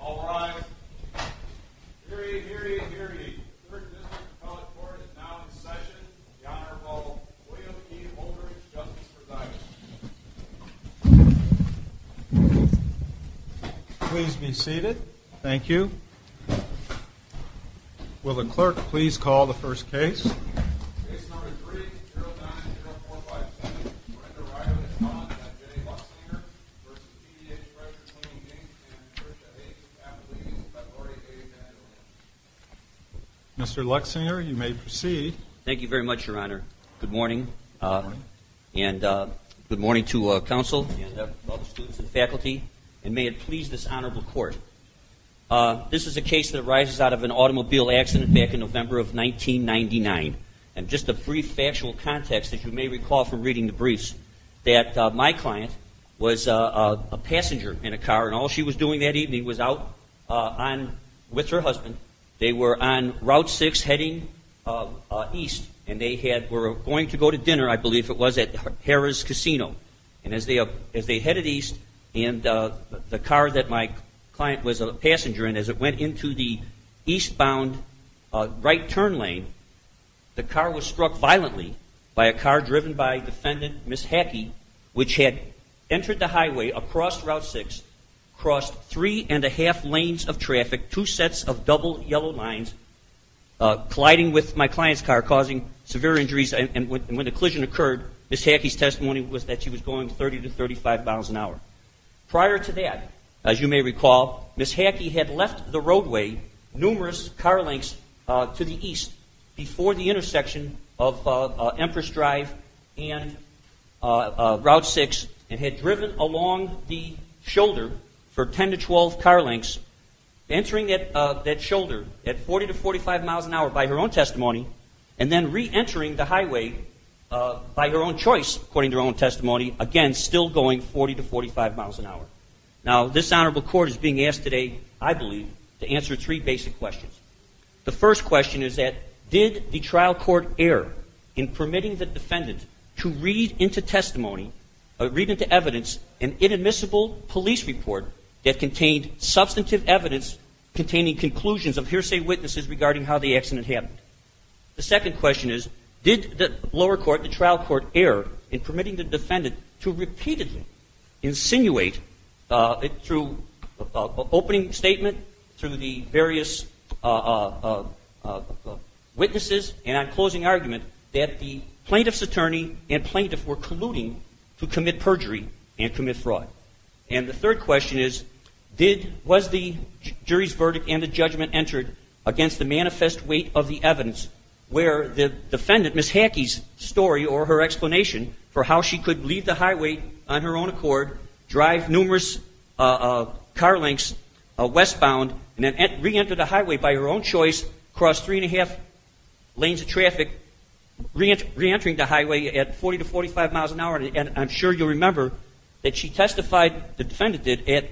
All rise. Hear ye, hear ye, hear ye. 3rd District Appellate Court is now in session. The Honorable William E. Oldridge, Justice for Divers. Please be seated. Thank you. Will the clerk please call the first case. Case number three, 090457, for Ender Ryder v. John F. J. Luxinger v. PDH Pressure Cleaning, Inc. and Patricia H. Appellate, February 8, 2011. Mr. Luxinger, you may proceed. Thank you very much, Your Honor. Good morning. Good morning. And good morning to counsel and all the students and faculty. And may it please this Honorable Court, this is a case that arises out of an automobile accident back in November of 1999. And just a brief factual context, as you may recall from reading the briefs, that my client was a passenger in a car, and all she was doing that evening was out with her husband. They were on Route 6 heading east, and they were going to go to dinner, I believe it was, at Harrah's Casino. And as they headed east, and the car that my client was a passenger in, as it went into the eastbound right turn lane, the car was struck violently by a car driven by defendant Ms. Hackey, which had entered the highway across Route 6, crossed three and a half lanes of traffic, two sets of double yellow lines, colliding with my client's car, causing severe injuries. And when the collision occurred, Ms. Hackey's testimony was that she was going 30 to 35 miles an hour. Prior to that, as you may recall, Ms. Hackey had left the roadway numerous car lengths to the east before the intersection of Empress Drive and Route 6, and had driven along the shoulder for 10 to 12 car lengths, entering that shoulder at 40 to 45 miles an hour by her own testimony, and then reentering the highway by her own choice, according to her own testimony, again, still going 40 to 45 miles an hour. Now, this Honorable Court is being asked today, I believe, to answer three basic questions. The first question is that, did the trial court err in permitting the defendant to read into testimony, read into evidence, an inadmissible police report that contained substantive evidence containing conclusions of hearsay witnesses regarding how the accident happened? The second question is, did the lower court, the trial court, err in permitting the defendant to repeatedly insinuate, through opening statement, through the various witnesses, and on closing argument, that the plaintiff's attorney and plaintiff were colluding to commit perjury and commit fraud? And the third question is, was the jury's verdict and the judgment entered against the manifest weight of the evidence where the defendant, Ms. Hackey's story or her explanation for how she could leave the highway on her own accord, drive numerous car lengths westbound, and then reenter the highway by her own choice, cross three and a half lanes of traffic, reentering the highway at 40 to 45 miles an hour? And I'm sure you'll remember that she testified, the defendant did at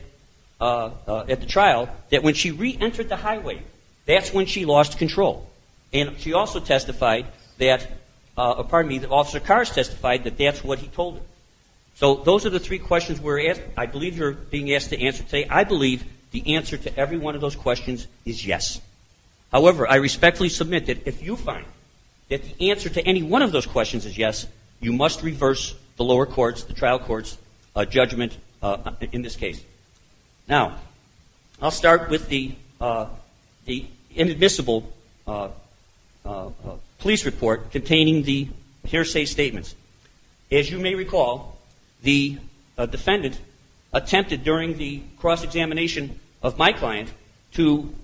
the trial, that when she reentered the highway, that's when she lost control. And she also testified that, pardon me, that Officer Carr has testified that that's what he told her. So those are the three questions we're asked. I believe you're being asked to answer today. I believe the answer to every one of those questions is yes. However, I respectfully submit that if you find that the answer to any one of those questions is yes, you must reverse the lower courts, the trial courts, judgment in this case. Now, I'll start with the inadmissible police report containing the hearsay statements. As you may recall, the defendant attempted during the cross-examination of my client to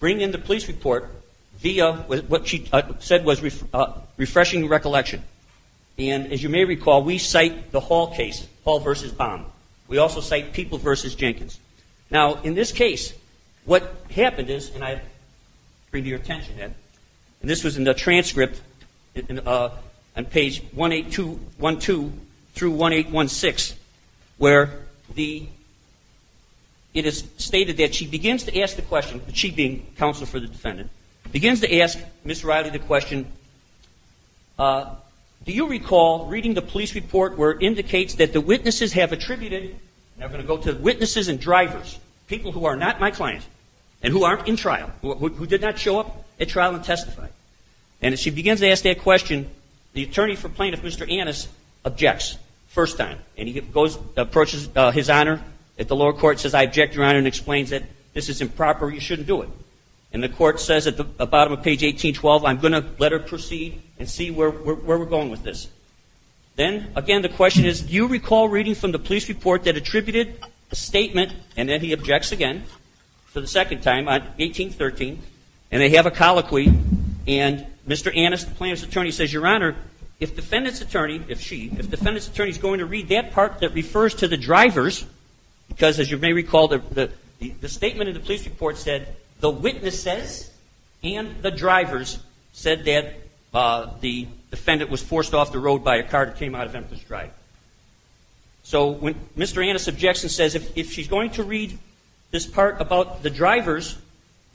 bring in the police report via what she said was refreshing recollection. And as you may recall, we cite the Hall case, Hall v. Baum. We also cite Peoples v. Jenkins. Now, in this case, what happened is, and I bring to your attention that, and this was in the transcript on page 1-2 through 1-816, where it is stated that she begins to ask the question, she being counsel for the defendant, begins to ask Ms. Riley the question, do you recall reading the police report where it indicates that the witnesses have attributed, and I'm going to go to witnesses and drivers, people who are not my client and who aren't in trial, who did not show up at trial and testify. And as she begins to ask that question, the attorney for plaintiff, Mr. Annis, objects first time, and he approaches his honor at the lower court and says, this is improper. You shouldn't do it. And the court says at the bottom of page 18-12, I'm going to let her proceed and see where we're going with this. Then, again, the question is, do you recall reading from the police report that attributed a statement, and then he objects again for the second time on 18-13, and they have a colloquy, and Mr. Annis, the plaintiff's attorney, says, Your Honor, if defendant's attorney, if she, if defendant's attorney is going to read that part that refers to the drivers, because as you may recall, the statement in the police report said the witnesses and the drivers said that the defendant was forced off the road by a car that came out of Emerson Drive. So when Mr. Annis objects and says, if she's going to read this part about the drivers,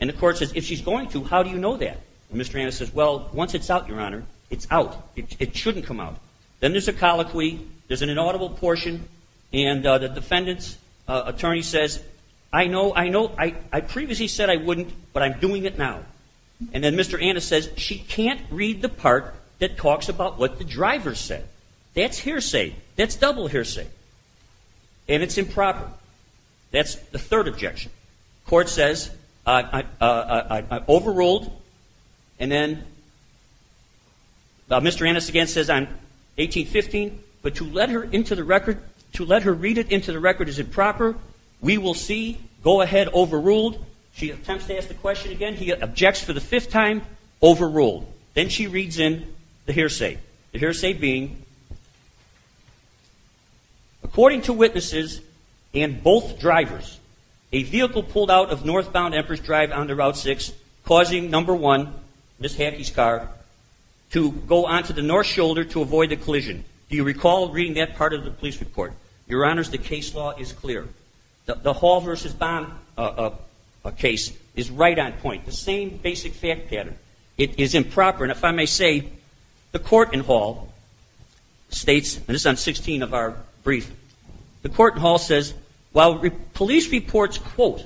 and the court says, if she's going to, how do you know that? And Mr. Annis says, well, once it's out, Your Honor, it's out. It shouldn't come out. Then there's a colloquy, there's an inaudible portion, and the defendant's attorney says, I know, I know, I previously said I wouldn't, but I'm doing it now. And then Mr. Annis says, she can't read the part that talks about what the drivers said. That's hearsay. That's double hearsay. And it's improper. That's the third objection. The court says, I overruled, and then Mr. Annis again says, I'm 1815, but to let her read it into the record is improper. We will see. Go ahead, overruled. She attempts to ask the question again. He objects for the fifth time, overruled. Then she reads in the hearsay. The hearsay being, according to witnesses and both drivers, a vehicle pulled out of northbound Empress Drive onto Route 6, causing number one, Ms. Hackey's car, to go onto the north shoulder to avoid the collision. Do you recall reading that part of the police report? Your Honor, the case law is clear. The Hall versus Bond case is right on point. The same basic fact pattern. It is improper. And if I may say, the court in Hall states, and this is on 16 of our brief, the court in Hall says, while police reports, quote,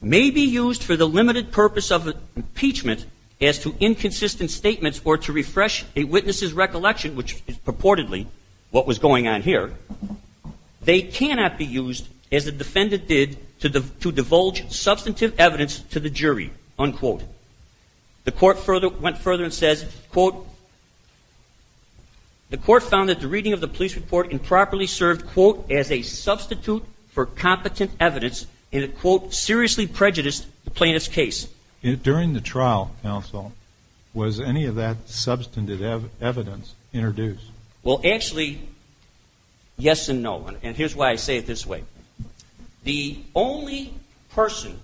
may be used for the limited purpose of impeachment as to inconsistent statements or to refresh a witness's recollection, which is purportedly what was going on here, they cannot be used as the defendant did to divulge substantive evidence to the jury, unquote. The court went further and says, quote, the court found that the reading of the police report improperly served, quote, as a substitute for competent evidence and it, quote, seriously prejudiced the plaintiff's case. During the trial, counsel, was any of that substantive evidence introduced? Well, actually, yes and no. And here's why I say it this way. The only person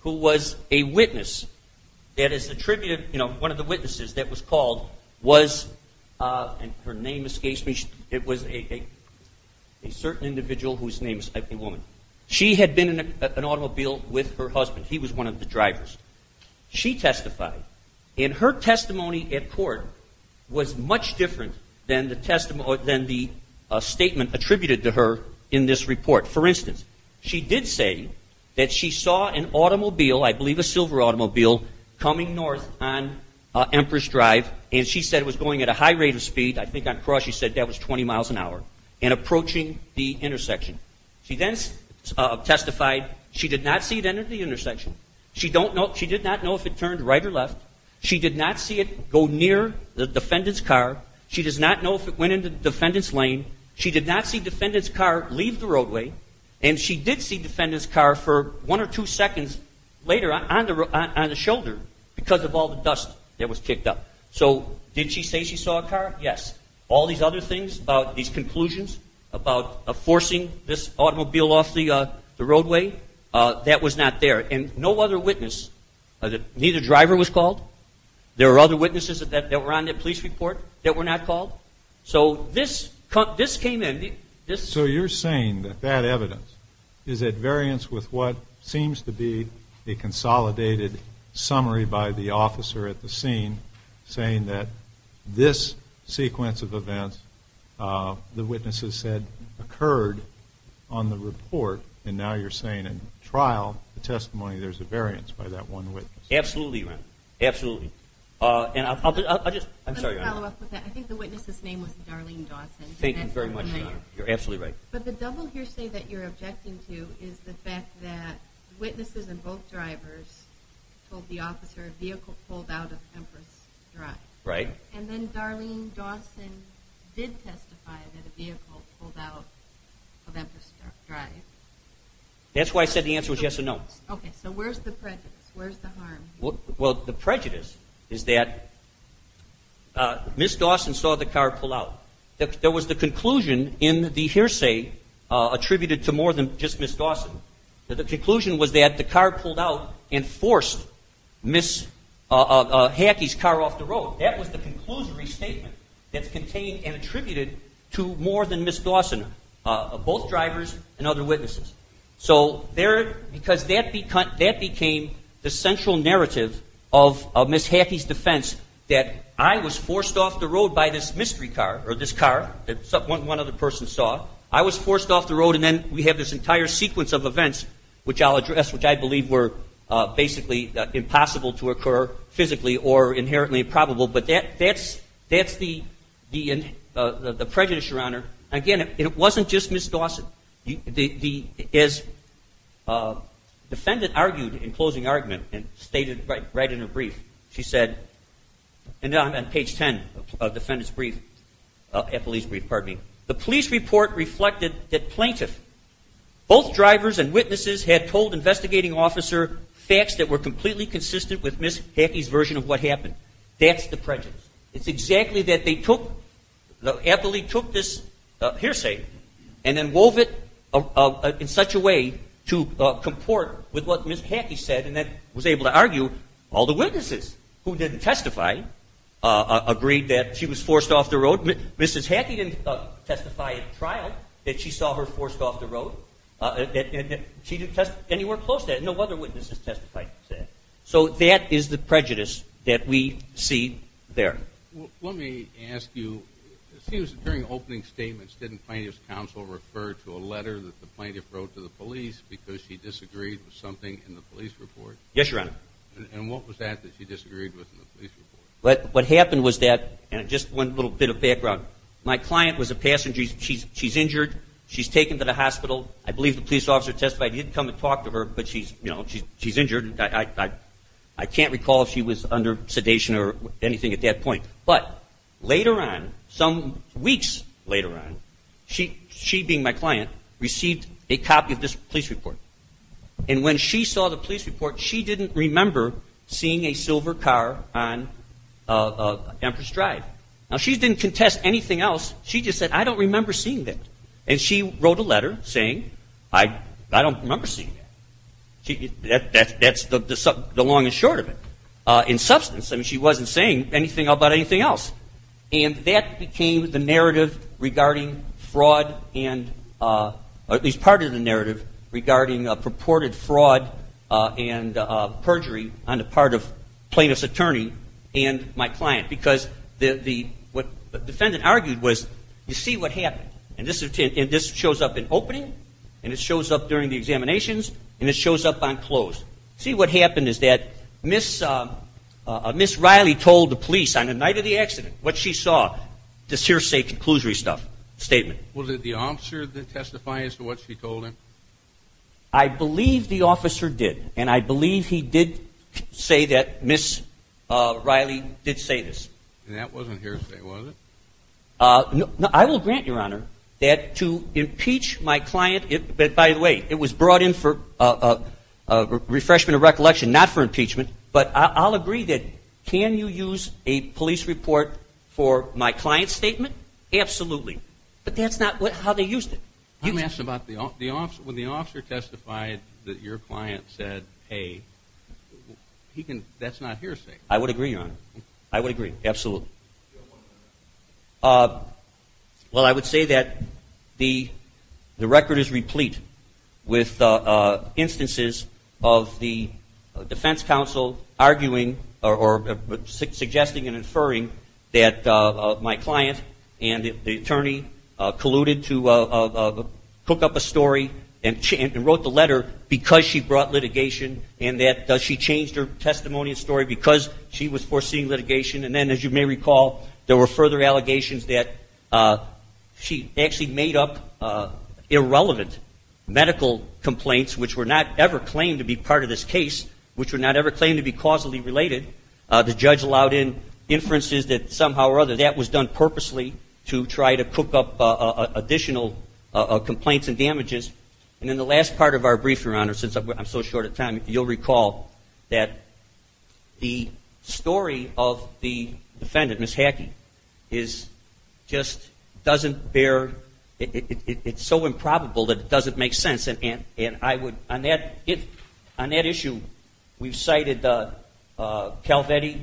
who was a witness that is attributed, you know, one of the witnesses that was called was, and her name escapes me, it was a certain individual whose name is Ebony Woman. She had been in an automobile with her husband. He was one of the drivers. She testified and her testimony at court was much different than the statement attributed to her in this report. For instance, she did say that she saw an automobile, I believe a silver automobile, coming north on Empress Drive and she said it was going at a high rate of speed, I think on cross she said that was 20 miles an hour, and approaching the intersection. She then testified she did not see it enter the intersection. She did not know if it turned right or left. She did not see it go near the defendant's car. She does not know if it went into the defendant's lane. She did not see defendant's car leave the roadway. And she did see defendant's car for one or two seconds later on the shoulder because of all the dust that was picked up. So did she say she saw a car? Yes. All these other things about these conclusions about forcing this automobile off the roadway, that was not there. And no other witness, neither driver was called. There were other witnesses that were on the police report that were not called. So this came in. So you're saying that that evidence is at variance with what seems to be a consolidated summary by the officer at the scene saying that this sequence of events the witnesses said occurred on the report, and now you're saying in trial the testimony there's a variance by that one witness. Absolutely, Ron. Absolutely. I think the witness's name was Darlene Dawson. Thank you very much, Ron. You're absolutely right. But the double hearsay that you're objecting to is the fact that witnesses and both drivers told the officer a vehicle pulled out of Empress Drive. Right. And then Darlene Dawson did testify that a vehicle pulled out of Empress Drive. That's why I said the answer was yes or no. Okay. So where's the prejudice? Where's the harm? Well, the prejudice is that Ms. Dawson saw the car pull out. There was the conclusion in the hearsay attributed to more than just Ms. Dawson. The conclusion was that the car pulled out and forced Ms. Hackey's car off the road. That was the conclusory statement that's contained and attributed to more than Ms. Dawson, both drivers and other witnesses. So because that became the central narrative of Ms. Hackey's defense that I was forced off the road by this mystery car or this car that one other person saw. I was forced off the road and then we have this entire sequence of events, which I'll address, which I believe were basically impossible to occur physically or inherently probable. But that's the prejudice, Your Honor. Again, it wasn't just Ms. Dawson. As the defendant argued in closing argument and stated right in her brief, she said, and I'm on page 10 of the defendant's brief, Eppley's brief, pardon me. The police report reflected that plaintiff, both drivers and witnesses had told investigating officer facts that were completely consistent with Ms. Hackey's version of what happened. That's the prejudice. It's exactly that they took, Eppley took this hearsay and then wove it in such a way to comport with what Ms. Hackey said and then was able to argue all the witnesses who didn't testify agreed that she was forced off the road. Ms. Hackey didn't testify at trial that she saw her forced off the road. She didn't testify anywhere close to that. No other witnesses testified to that. So that is the prejudice that we see there. Let me ask you, it seems during opening statements didn't plaintiff's counsel refer to a letter that the plaintiff wrote to the police because she disagreed with something in the police report? Yes, Your Honor. And what was that that she disagreed with in the police report? What happened was that, and just one little bit of background, my client was a passenger. She's injured. She's taken to the hospital. I believe the police officer testified. He didn't come and talk to her, but she's injured. I can't recall if she was under sedation or anything at that point. But later on, some weeks later on, she being my client, received a copy of this police report. And when she saw the police report, she didn't remember seeing a silver car on Empress Drive. Now, she didn't contest anything else. She just said, I don't remember seeing that. And she wrote a letter saying, I don't remember seeing that. That's the long and short of it. In substance, I mean, she wasn't saying anything about anything else. And that became the narrative regarding fraud and at least part of the narrative regarding purported fraud and perjury on the part of plaintiff's attorney and my client. Because what the defendant argued was, you see what happened. And this shows up in opening, and it shows up during the examinations, and it shows up on close. See, what happened is that Ms. Riley told the police on the night of the accident what she saw, this hearsay conclusory stuff, statement. Was it the officer that testified as to what she told him? I believe the officer did. And I believe he did say that Ms. Riley did say this. And that wasn't hearsay, was it? No, I will grant, Your Honor, that to impeach my client, but by the way, it was brought in for refreshment and recollection, not for impeachment. But I'll agree that can you use a police report for my client's statement? Absolutely. But that's not how they used it. When the officer testified that your client said, hey, that's not hearsay. I would agree, Your Honor. I would agree, absolutely. Well, I would say that the record is replete with instances of the defense counsel arguing or suggesting and inferring that my client and the attorney colluded to cook up a story and wrote the letter because she brought litigation and that she changed her testimony and story because she was foreseeing litigation. And then, as you may recall, there were further allegations that she actually made up irrelevant medical complaints, which were not ever claimed to be part of this case, which were not ever claimed to be causally related. The judge allowed in inferences that somehow or other that was done purposely to try to cook up additional complaints and damages. And in the last part of our briefing, Your Honor, since I'm so short of time, you'll recall that the story of the defendant, Ms. Hackey, is just doesn't bear, it's so improbable that it doesn't make sense. And I would, on that issue, we've cited Calvetti,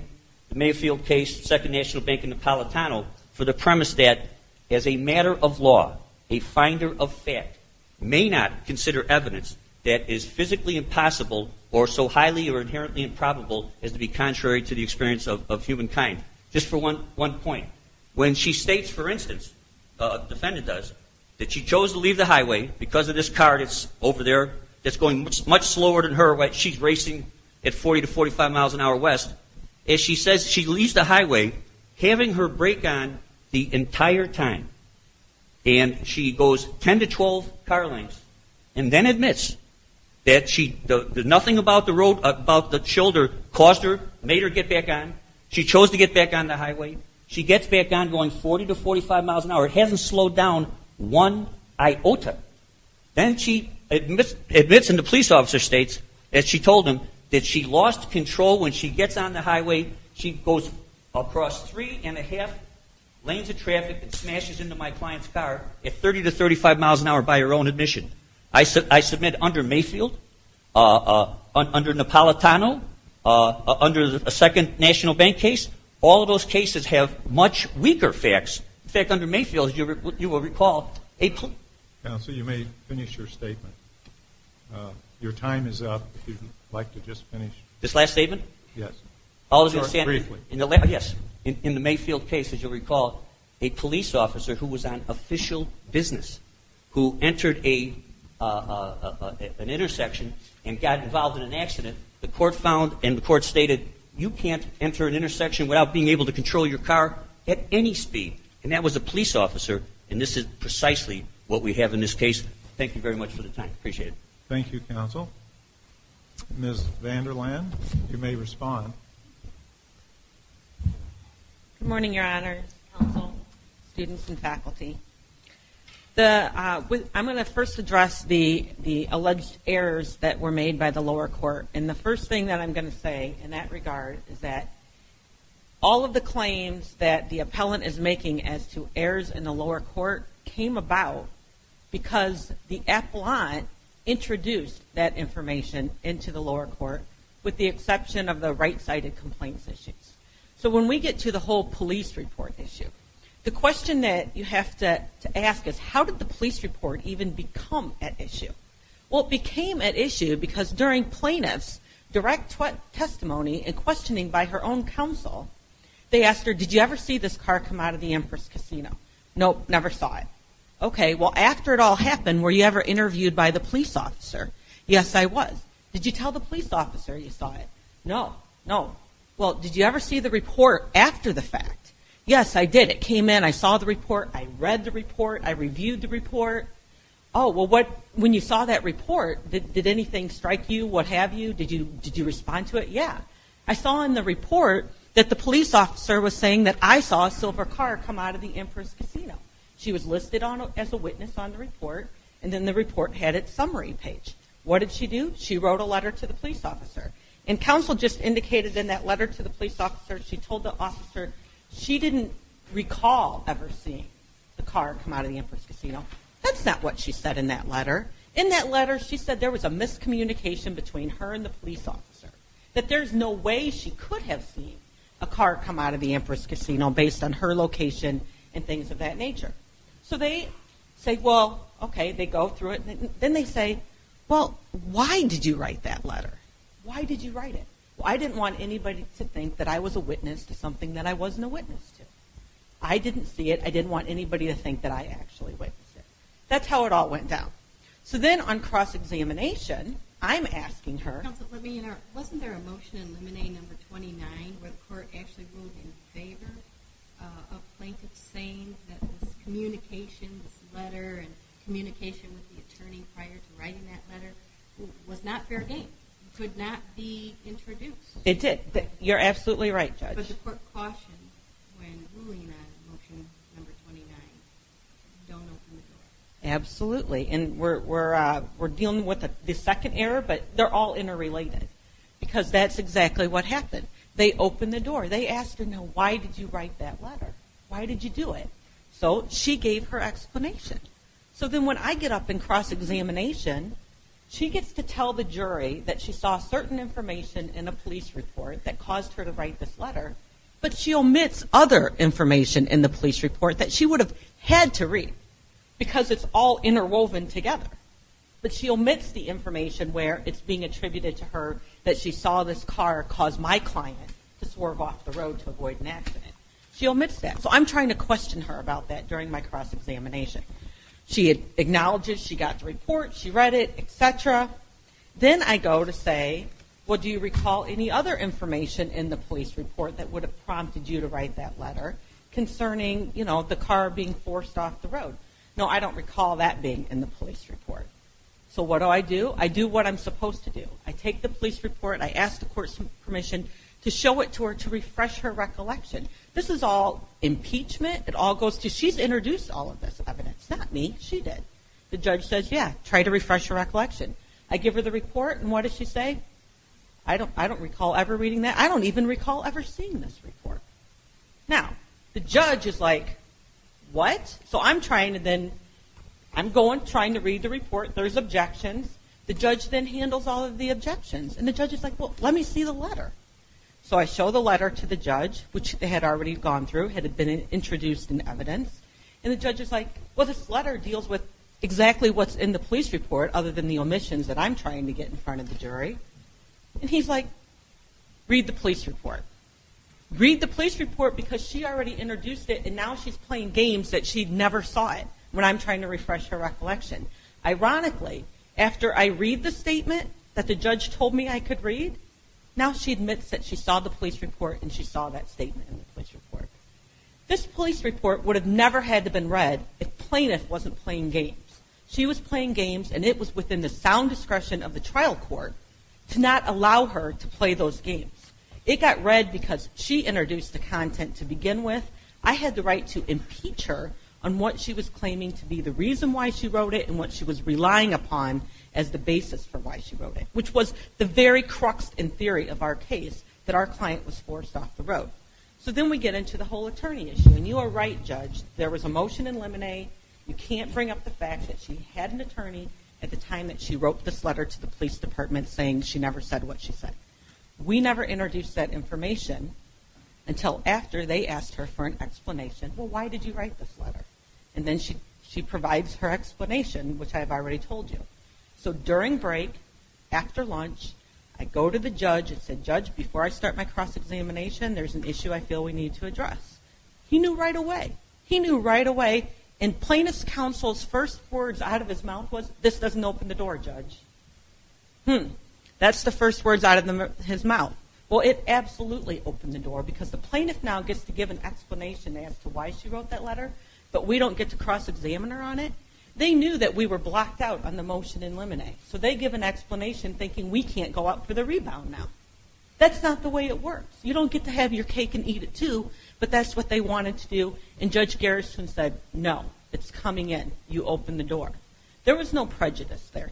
the Mayfield case, Second National Bank and Napolitano for the premise that as a matter of law, a finder of fact may not consider evidence that is physically impossible or so highly or inherently improbable as to be contrary to the experience of humankind. Just for one point. When she states, for instance, the defendant does, that she chose to leave the highway because of this car that's over there that's going much slower than her, she's racing at 40 to 45 miles an hour west. And she says she leaves the highway having her brake on the entire time. And she goes 10 to 12 car lengths and then admits that nothing about the shoulder caused her, made her get back on. She chose to get back on the highway. She gets back on going 40 to 45 miles an hour. It hasn't slowed down one iota. Then she admits in the police officer states, as she told them, that she lost control when she gets on the highway. She goes across three and a half lanes of traffic and smashes into my client's car at 30 to 35 miles an hour by her own admission. I submit under Mayfield, under Napolitano, under a second national bank case, all of those cases have much weaker facts. In fact, under Mayfield you will recall a police. Your time is up if you'd like to just finish. This last statement? Yes. Briefly. Yes. In the Mayfield case, as you'll recall, a police officer who was on official business who entered an intersection and got involved in an accident, the court found and the court stated you can't enter an intersection without being able to control your car at any speed. And that was a police officer. And this is precisely what we have in this case. Thank you very much for the time. Appreciate it. Thank you, counsel. Ms. Vanderland, you may respond. Good morning, your honors, counsel, students and faculty. I'm going to first address the alleged errors that were made by the lower court. And the first thing that I'm going to say in that regard is that all of the claims that the appellant is making as to errors in the lower court came about because the appellant introduced that information into the lower court with the exception of the right-sided complaints issues. So when we get to the whole police report issue, the question that you have to ask is how did the police report even become at issue? Well, it became at issue because during plaintiff's direct testimony and questioning by her own counsel, they asked her, did you ever see this car come out of the Empress Casino? Nope, never saw it. Okay, well, after it all happened, were you ever interviewed by the police officer? Yes, I was. Did you tell the police officer you saw it? No, no. Well, did you ever see the report after the fact? Yes, I did. It came in. I saw the report. I read the report. I reviewed the report. Oh, well, when you saw that report, did anything strike you, what have you? Did you respond to it? Yeah. I saw in the report that the police officer was saying that I saw a silver car come out of the Empress Casino. She was listed as a witness on the report, and then the report had its summary page. What did she do? She wrote a letter to the police officer. And counsel just indicated in that letter to the police officer, she told the officer she didn't recall ever seeing the car come out of the Empress Casino. That's not what she said in that letter. In that letter, she said there was a miscommunication between her and the police officer, that there's no way she could have seen a car come out of the Empress Casino based on her location and things of that nature. So they say, well, okay, they go through it. Then they say, well, why did you write that letter? Why did you write it? Well, I didn't want anybody to think that I was a witness to something that I wasn't a witness to. I didn't see it. I didn't want anybody to think that I actually witnessed it. That's how it all went down. So then on cross-examination, I'm asking her... Wasn't there a motion in Lemonade No. 29 where the court actually ruled in favor of plaintiffs saying that this communication, this letter, and communication with the attorney prior to writing that letter was not fair game, could not be included in that motion, No. 29. Don't open the door. Absolutely. And we're dealing with the second error, but they're all interrelated. Because that's exactly what happened. They opened the door. They asked her, now, why did you write that letter? Why did you do it? So she gave her explanation. So then when I get up in cross-examination, she gets to tell the jury that she saw certain information in a police report that caused her to write this letter, but she omits other information in the police report that she would have had to read, because it's all interwoven together. But she omits the information where it's being attributed to her that she saw this car cause my client to swerve off the road to avoid an accident. She omits that. So I'm trying to question her about that during my cross-examination. She acknowledges she got the report, she read it, etc. Then I go to say, well, do you recall any other information in the police report that would have prompted you to write that letter concerning, you know, the car being forced off the road? No, I don't recall that being in the police report. So what do I do? I do what I'm supposed to do. I take the police report, I ask the court's permission to show it to her to refresh her recollection. This is all impeachment. It all goes to, she's introduced all of this evidence. Not me, she did. The judge says, yeah, try to refresh her recollection. I give her the report, and what does she say? I don't recall ever reading that. I don't even recall ever seeing this report. Now, the judge is like, what? So I'm trying to then, I'm going, trying to read the report. There's objections. The judge then handles all of the objections. And the judge is like, well, let me see the letter. So I show the letter to the judge, which they had already gone through, had been introduced in evidence. And the judge is like, well, this letter deals with exactly what's in the police report, other than the omissions that I'm trying to get in front of the jury. And he's like, read the police report. Read the police report because she already introduced it, and now she's playing games that she never saw it when I'm trying to refresh her recollection. Ironically, after I read the statement that the judge told me I could read, now she admits that she saw the police report, and she saw that statement in the police report. This police report would have never had to been read if plaintiff wasn't playing games. She was playing games, and it was within the sound discretion of the trial court to not allow her to play those games. It got read because she introduced the content to begin with. I had the right to impeach her on what she was claiming to be the reason why she wrote it and what she was relying upon as the basis for why she wrote it. Which was the very crux in theory of our case, that our client was forced off the road. So then we get into the whole attorney issue. And you are right, judge, there was a motion in Lemonade, you can't bring up the fact that she had an attorney at the time that she wrote this letter to the police department saying she never said what she said. We never introduced that information until after they asked her for an explanation. Well, why did you write this letter? And then she provides her explanation, which I have already told you. So during break, after lunch, I go to the judge and say, judge, before I start my cross examination, there's an issue I feel we need to address. He knew right away. He knew right away, and plaintiff's counsel's first words out of his mouth was, this doesn't open the door, judge. Hmm. That's the first words out of his mouth. Well, it absolutely opened the door, because the plaintiff now gets to give an explanation as to why she wrote that letter, but we don't get to cross examine her on it. They knew that we were blocked out on the motion in Lemonade. So they give an explanation thinking we can't go out for the rebound now. That's not the way it works. You don't get to have your cake and eat it too, but that's what they wanted to do. And Judge Garrison said, no, it's coming in. You open the door. There was no prejudice there.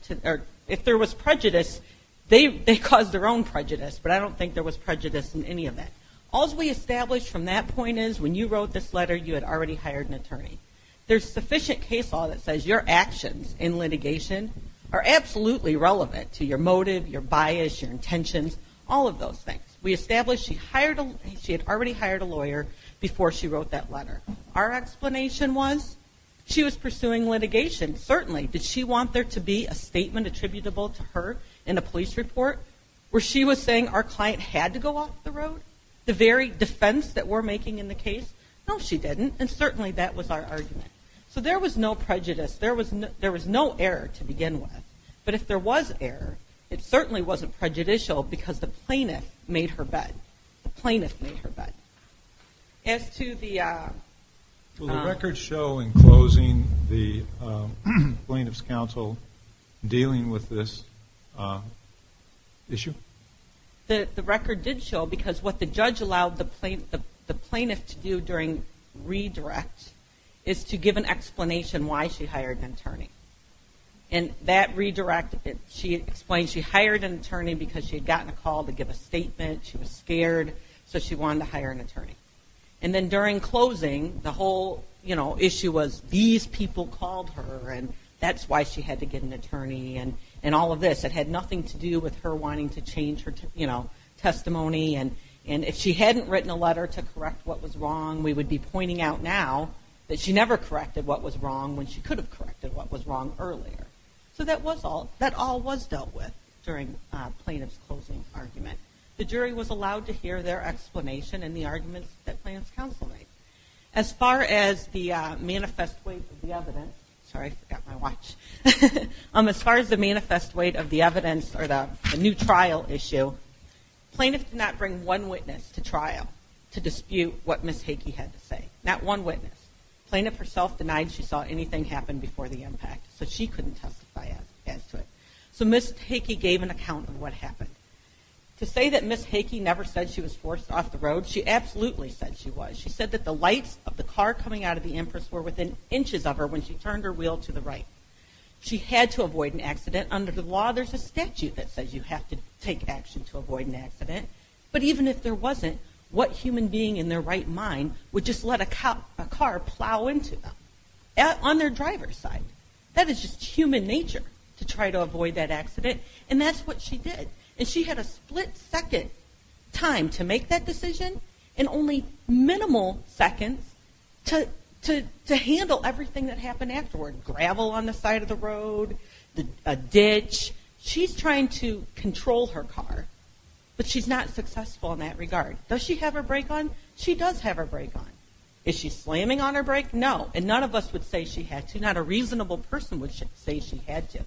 If there was prejudice, they caused their own prejudice, but I don't think there was prejudice in any of that. All's we established from that point is, when you wrote this letter, you had already hired an attorney. There's sufficient case law that says your actions in litigation are absolutely relevant to your motive, your bias, your intentions, all of those things. We established she had already hired a lawyer before she wrote that letter. Our explanation was, she was pursuing litigation. Certainly. Did she want there to be a statement attributable to her in a police report where she was saying our client had to go off the road? The very defense that we're making in the case? No, she didn't. And certainly that was our argument. So there was no prejudice. There was no error to begin with. But if there was error, it certainly wasn't prejudicial because the plaintiff made her bed. As to the... Will the record show in closing the plaintiff's counsel dealing with this issue? The record did show because what the judge allowed the plaintiff to do during redirect is to give an explanation why she hired an attorney. And that redirect, she explained she hired an attorney because she had gotten a call to give a statement, she was scared, so she wanted to hire an attorney. And then during closing, the whole issue was these people called her and that's why she had to get an attorney and all of this. It had nothing to do with her wanting to change her testimony. And if she hadn't written a letter to correct what was wrong, we would be pointing out now that she never corrected what was wrong when she could have corrected what was wrong earlier. So that was all, that all was dealt with during plaintiff's closing argument. The jury was allowed to hear their explanation and the arguments that plaintiff's counsel made. As far as the manifest weight of the evidence, sorry, I forgot my watch. As far as the manifest weight of the evidence or the new trial issue, plaintiff did not bring one witness to trial to dispute what Ms. Hackey had to say. Not one witness. Plaintiff herself denied she saw anything happen before the impact, so she couldn't testify as to it. So Ms. Hackey gave an account of what happened. To say that Ms. Hackey never said she was forced off the road, she absolutely said she was. She said that the lights of the car coming out of the Empress were within inches of her when she turned her head. So there's a law, there's a statute that says you have to take action to avoid an accident. But even if there wasn't, what human being in their right mind would just let a car plow into them? On their driver's side. That is just human nature to try to avoid that accident. And that's what she did. And she had a split second time to make that decision and only minimal seconds to handle everything that happened afterward. Gravel on the side of the road, a ditch. She's trying to control her car, but she's not successful in that regard. Does she have her brake on? She does have her brake on. Is she slamming on her brake? No. And none of us would say she had to. Not a reasonable person would say she had to.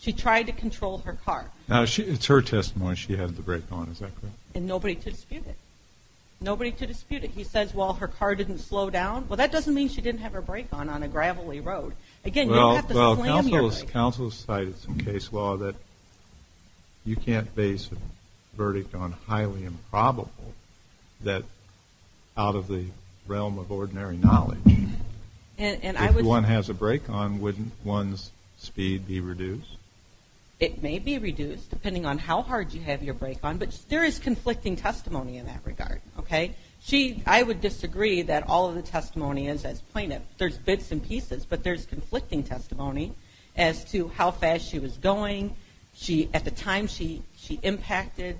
She tried to control her car. It's her testimony she had the brake on, is that correct? And nobody to dispute it. Nobody to dispute it. He says, well, her car didn't slow down. Well, that doesn't mean she didn't have her brake on on a gravelly road. Again, you don't have to slam your brake. Well, counsel has cited some case law that you can't base a verdict on highly improbable that out of the realm of ordinary knowledge, if one has a brake on, wouldn't one's speed be reduced? It may be reduced, depending on how hard you have your brake on, but there is conflicting testimony in that regard. Okay? I would disagree that all of the testimony is as plaintiff. There's bits and pieces, but there's conflicting testimony as to how fast she was going. At the time she impacted,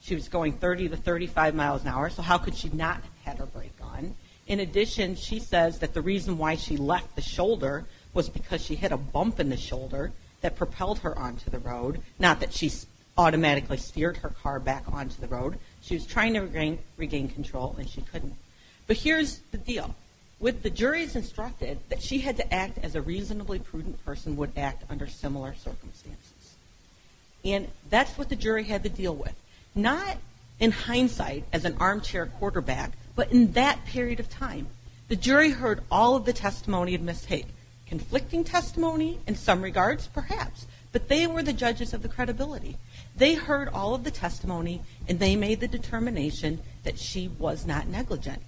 she was going 30 to 35 miles an hour, so how could she not have her brake on? In addition, she says that the reason why she left the shoulder was because she hit a bump in the shoulder that propelled her onto the road. Not that she automatically steered her car back onto the road. She was trying to regain control and she couldn't. But here's the deal. With the jury's instructed that she had to act as a reasonably prudent person would act under similar circumstances. And that's what the jury had to deal with. Not in all of the testimony of mistake. Conflicting testimony in some regards, perhaps. But they were the judges of the credibility. They heard all of the testimony and they made the determination that she was not negligent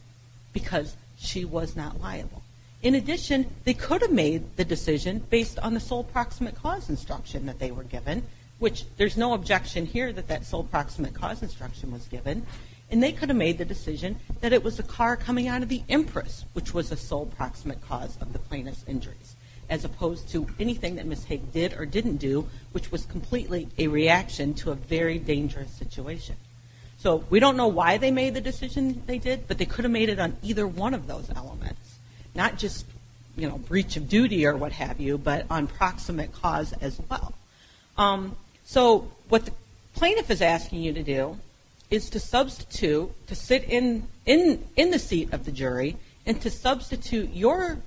because she was not liable. In addition, they could have made the decision based on the sole proximate cause instruction that they were given, which there's no objection here that that sole proximate cause instruction was given. And they could have made the decision that it was the car coming out of the Empress, which was the sole proximate cause of the plaintiff's injuries. As opposed to anything that Ms. Haig did or didn't do, which was completely a reaction to a very dangerous situation. So we don't know why they made the decision they did, but they could have made it on either one of those elements. Not just, you know, breach of duty or what have you, but on proximate cause as well. So what the plaintiff is asking you to do is to substitute, to sit in the seat of the jury and to substitute your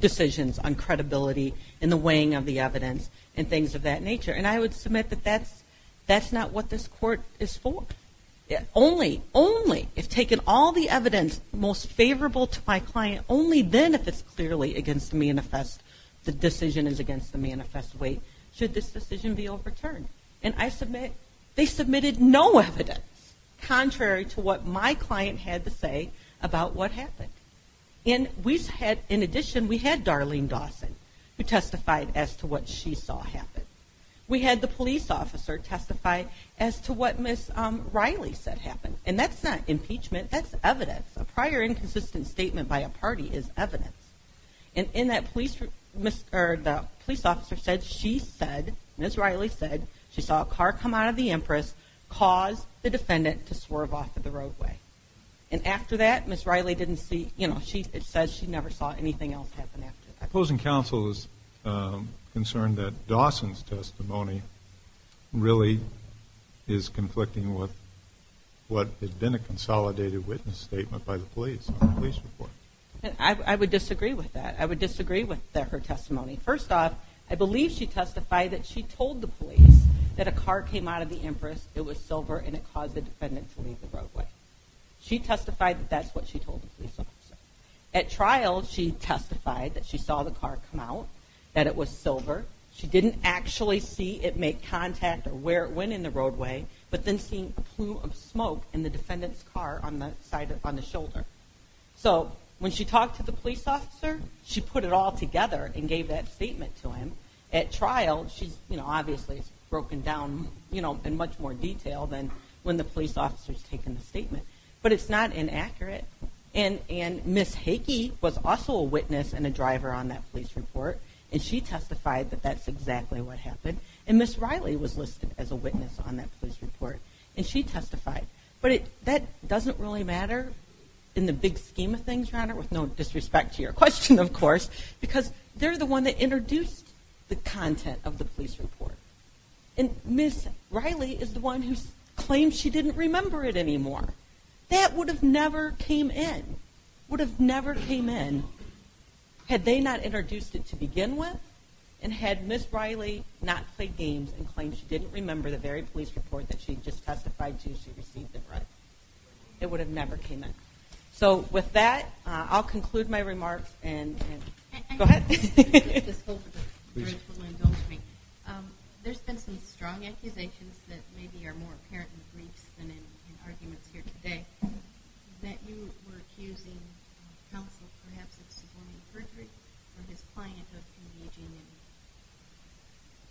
decisions on credibility and the weighing of the evidence and things of that nature. And I would submit that that's not what this court is for. Only, only, if taken all the evidence most favorable to my client, only then if it's clearly against the manifest, the decision is against the manifest weight, should this decision be overturned. And I submit they submitted no evidence. Contrary to what my client had to say about what happened. And we had, in addition, we had Darlene Dawson who testified as to what she saw happen. We had the police officer testify as to what Ms. Riley said happened. And that's not impeachment, that's evidence. A prior inconsistent statement by a party is evidence. And in that police, or the police officer said she said, Ms. Riley said, she saw a car come out of the Empress, cause the defendant to swerve off of the roadway. And after that, Ms. Riley didn't see, you know, it says she never saw anything else happen after that. Opposing counsel is concerned that Dawson's testimony really is conflicting with what had been a consolidated witness statement by the police, police report. I would disagree with that. I would disagree with her testimony. First off, I believe she testified that she told the police that a car came out of the Empress, it was silver and it caused the defendant to leave the roadway. She testified that that's what she told the police officer. At trial, she testified that she saw the car come out, that it was silver. She didn't actually see it make contact or where it went in the roadway, but then seeing a So when she talked to the police officer, she put it all together and gave that statement to him. At trial, she's, you know, obviously it's broken down, you know, in much more detail than when the police officer has taken the statement, but it's not inaccurate. And Ms. Hickey was also a witness and a driver on that police report. And she testified that that's exactly what happened. And Ms. Riley was listed as a witness on that police report. And she testified. But that doesn't really matter in the big scheme of things, Your Honor, with no disrespect to your question, of course, because they're the one that introduced the content of the police report. And Ms. Riley is the one who claims she didn't remember it anymore. That would have never came in. Would have never came in had they not introduced it to begin with and had Ms. Riley not played games and claimed she didn't remember the very police report that she just testified to, she received the threat. It would have never came in. So with that, I'll conclude my remarks and go ahead. There's been some strong accusations that maybe are more apparent in the briefs than in arguments here today that you were accusing counsel perhaps of suborning perjury or his client of engaging in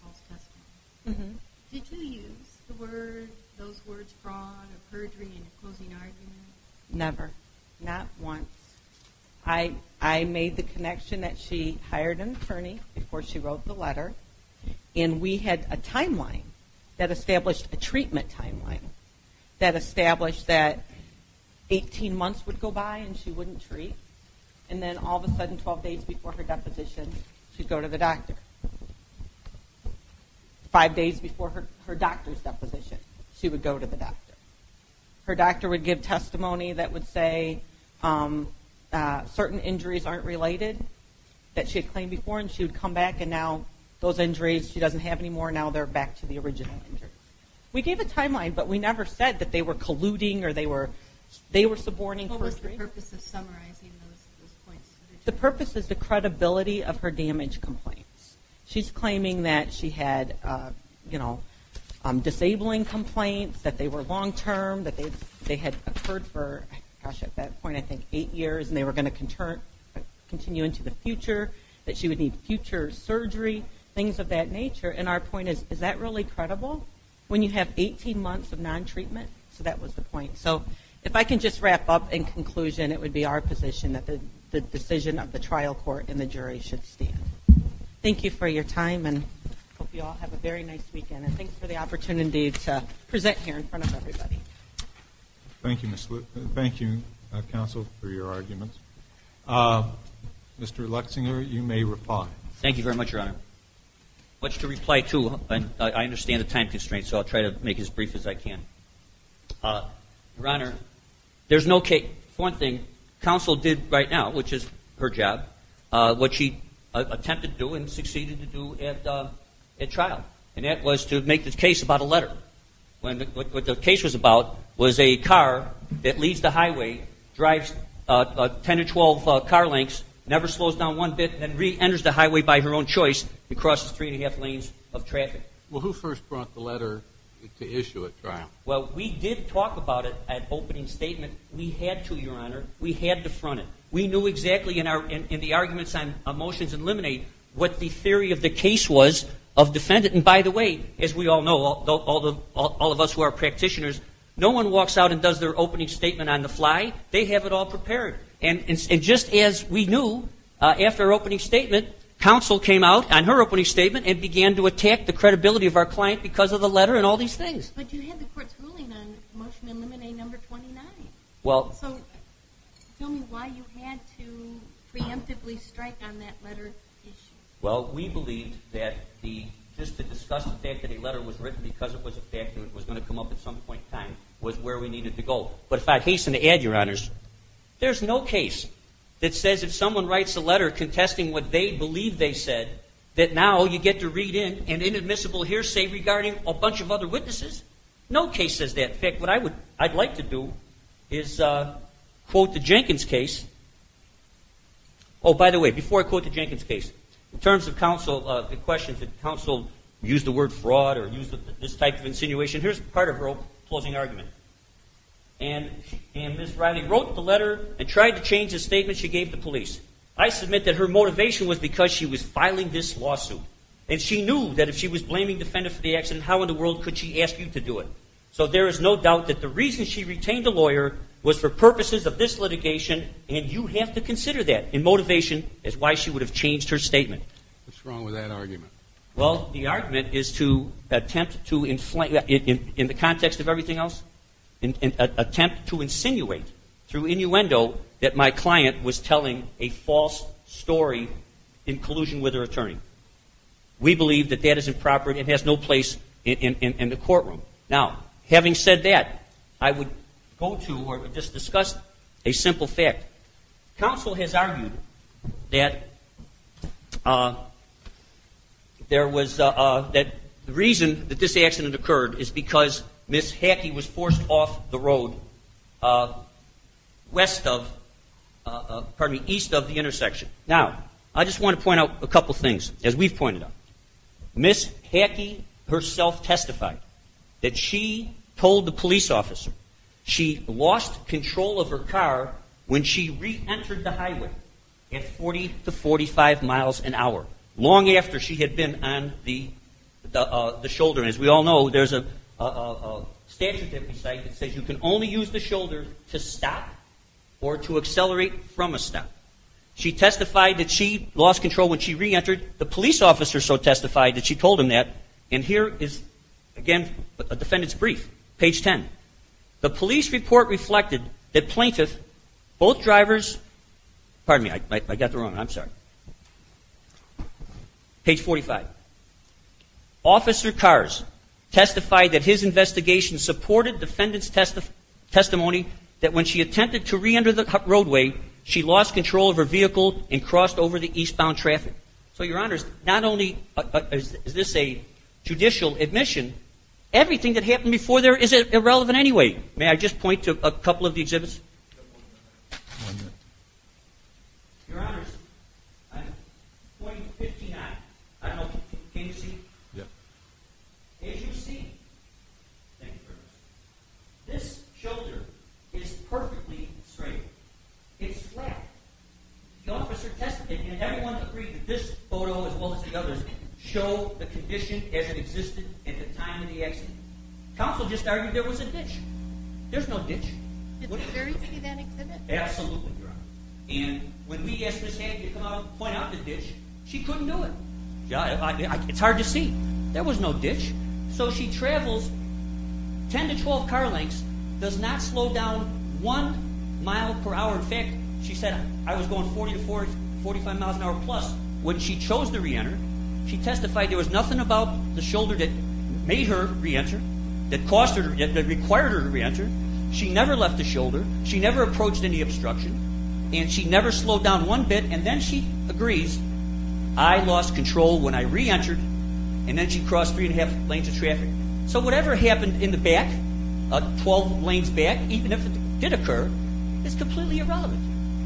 false testimony. Did you use the word, those words fraud or perjury in a closing argument? Never. Not once. I made the connection that she hired an attorney before she wrote the letter. And we had a timeline that established a treatment timeline that established that 18 months would go by and she wouldn't treat. And then all of a sudden, 12 days before her deposition, she'd go to the doctor. Five days before her doctor's deposition, she would go to the doctor. Her doctor would give testimony that would say certain injuries aren't related that she had claimed before and she would come back and now those injuries she doesn't have anymore, now they're back to the original injury. We gave a timeline, but we never said that they were colluding or they were suborning perjury. What was the purpose of summarizing those points? The purpose is the credibility of her damage complaints. She's claiming that she had, you know, disabling complaints, that they were long-term, that they had occurred for, gosh, at that point, I think, eight years and they were going to continue into the future, that she would need future surgery, things of that nature. And our point is, is that really credible when you have 18 months of non-treatment? So that was the point. So if I can just wrap up in conclusion, it would be our position that the decision of the trial court and the jury should stand. Thank you for your time and hope you all have a very nice weekend. And thanks for the opportunity to hear your arguments. Mr. Lexinger, you may reply. Thank you very much, Your Honor. Much to reply to. I understand the time constraints, so I'll try to make it as brief as I can. Your Honor, there's no case, one thing, counsel did right now, which is her job, what she attempted to do and succeeded to do at trial, and that was to make the case about a letter. What the case was about was a car that leaves the highway, drives 10 or 12 car lengths, never slows down one bit, then reenters the highway by her own choice and crosses three and a half lanes of traffic. Well, who first brought the letter to issue at trial? Well, we did talk about it at opening statement. We had to, Your Honor. We had to front it. We knew exactly in the arguments on motions and liminate what the theory of the case was of defendant. And by the way, as we all know, all of us who are practitioners, no one walks out and does their opening statement on the fly. They have it all prepared. And just as we knew, after opening statement, counsel came out on her opening statement and began to attack the credibility of our client because of the letter and all these things. But you had the court's ruling on motion eliminate number 29. So tell me why you had to preemptively strike on that letter issue. Well, we believed that the, just to discuss the fact that a letter was written because it was a fact and it was going to come up at some point in time, was where we needed to go. But if I hasten to add, Your Honors, there's no case that says if someone writes a letter contesting what they believe they said, that now you get to read in an inadmissible hearsay regarding a bunch of other witnesses. No case says that. In fact, what I'd like to do is quote the Jenkins case. Oh, by the way, before I quote the Jenkins case, in terms of counsel, the questions that counsel used the word fraud or used this type of insinuation, here's part of her closing argument. And Ms. Riley wrote the letter and tried to change the statement she gave the police. I submit that her motivation was because she was filing this lawsuit. And she knew that if she was filing this lawsuit, the reason she retained a lawyer was for purposes of this litigation, and you have to consider that in motivation as why she would have changed her statement. What's wrong with that argument? Well, the argument is to attempt to, in the context of everything else, attempt to insinuate through innuendo that my client was telling a false story in collusion with her attorney. We believe that that is improper and has no place in the courtroom. Now, having said that, I would go to or just discuss a simple fact. Counsel has argued that there was that the reason that this accident occurred is because Ms. Hackey was forced off the road west of, pardon me, east of the intersection. Now, I just want to point out a couple things, as we've pointed out. Ms. Hackey herself testified that she told the police officer she lost control of her car when she reentered the highway at 40 to 45 miles an hour, long after she had been on the shoulder. And as we all know, there's a statute that we cite that says you can only use the shoulder to stop or to accelerate from a stop. She testified that she lost control when she reentered. The police officer so testified that she told him that. And here is, again, a defendant's brief, page 10. The police report reflected that plaintiff, both drivers, pardon me, I got the wrong one, I'm sorry. Page 45. Officer Cars testified that his investigation supported defendant's testimony that when she attempted to reenter the roadway, she lost control of her vehicle and crossed over the eastbound traffic. So, Your Honors, not only is this a judicial admission, everything that happened before there is irrelevant anyway. May I just point to a couple of the exhibits? Your Honors, I'm pointing to 59. I don't know, can you see? As you see, this shoulder is perfectly straight. It's flat. The officer testified and everyone agreed that this photo as well as the others show the condition as it existed at the time of the accident. Counsel just argued there was a ditch. There's no ditch. Absolutely, Your Honor. And when we asked Ms. Hankey to come out and point out the ditch, she couldn't do it. It's hard to see. There was no ditch. So she travels 10 to 12 car lengths, does not slow down one mile per hour. In fact, she said I was going 40 to 45 miles an hour plus. When she re-entered, that required her to re-enter, she never left the shoulder, she never approached any obstruction, and she never slowed down one bit, and then she agrees, I lost control when I re-entered, and then she crossed three and a half lanes of traffic. So whatever happened in the back, 12 lanes back, even if it did occur, is completely irrelevant.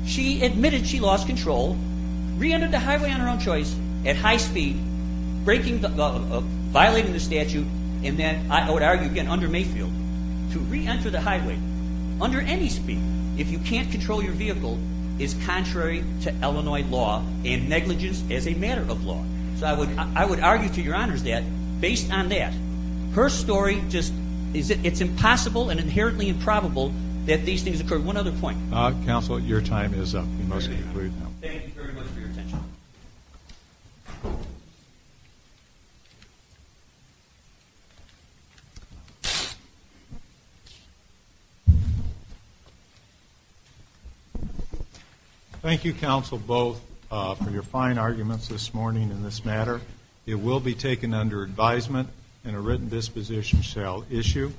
She admitted she lost control, re-entered the highway on her own choice at high speed, violating the statute, and then I would argue again under Mayfield, to re-enter the highway under any speed, if you can't control your vehicle, is contrary to Illinois law and negligence as a matter of law. So I would argue to Your Honor that based on that, her story just, it's impossible and inherently improbable that these things occur. One other point. Counsel, your time is up. Thank you, counsel, both for your fine arguments this morning in this matter. It will be taken under advisement in a written disposition shall issue.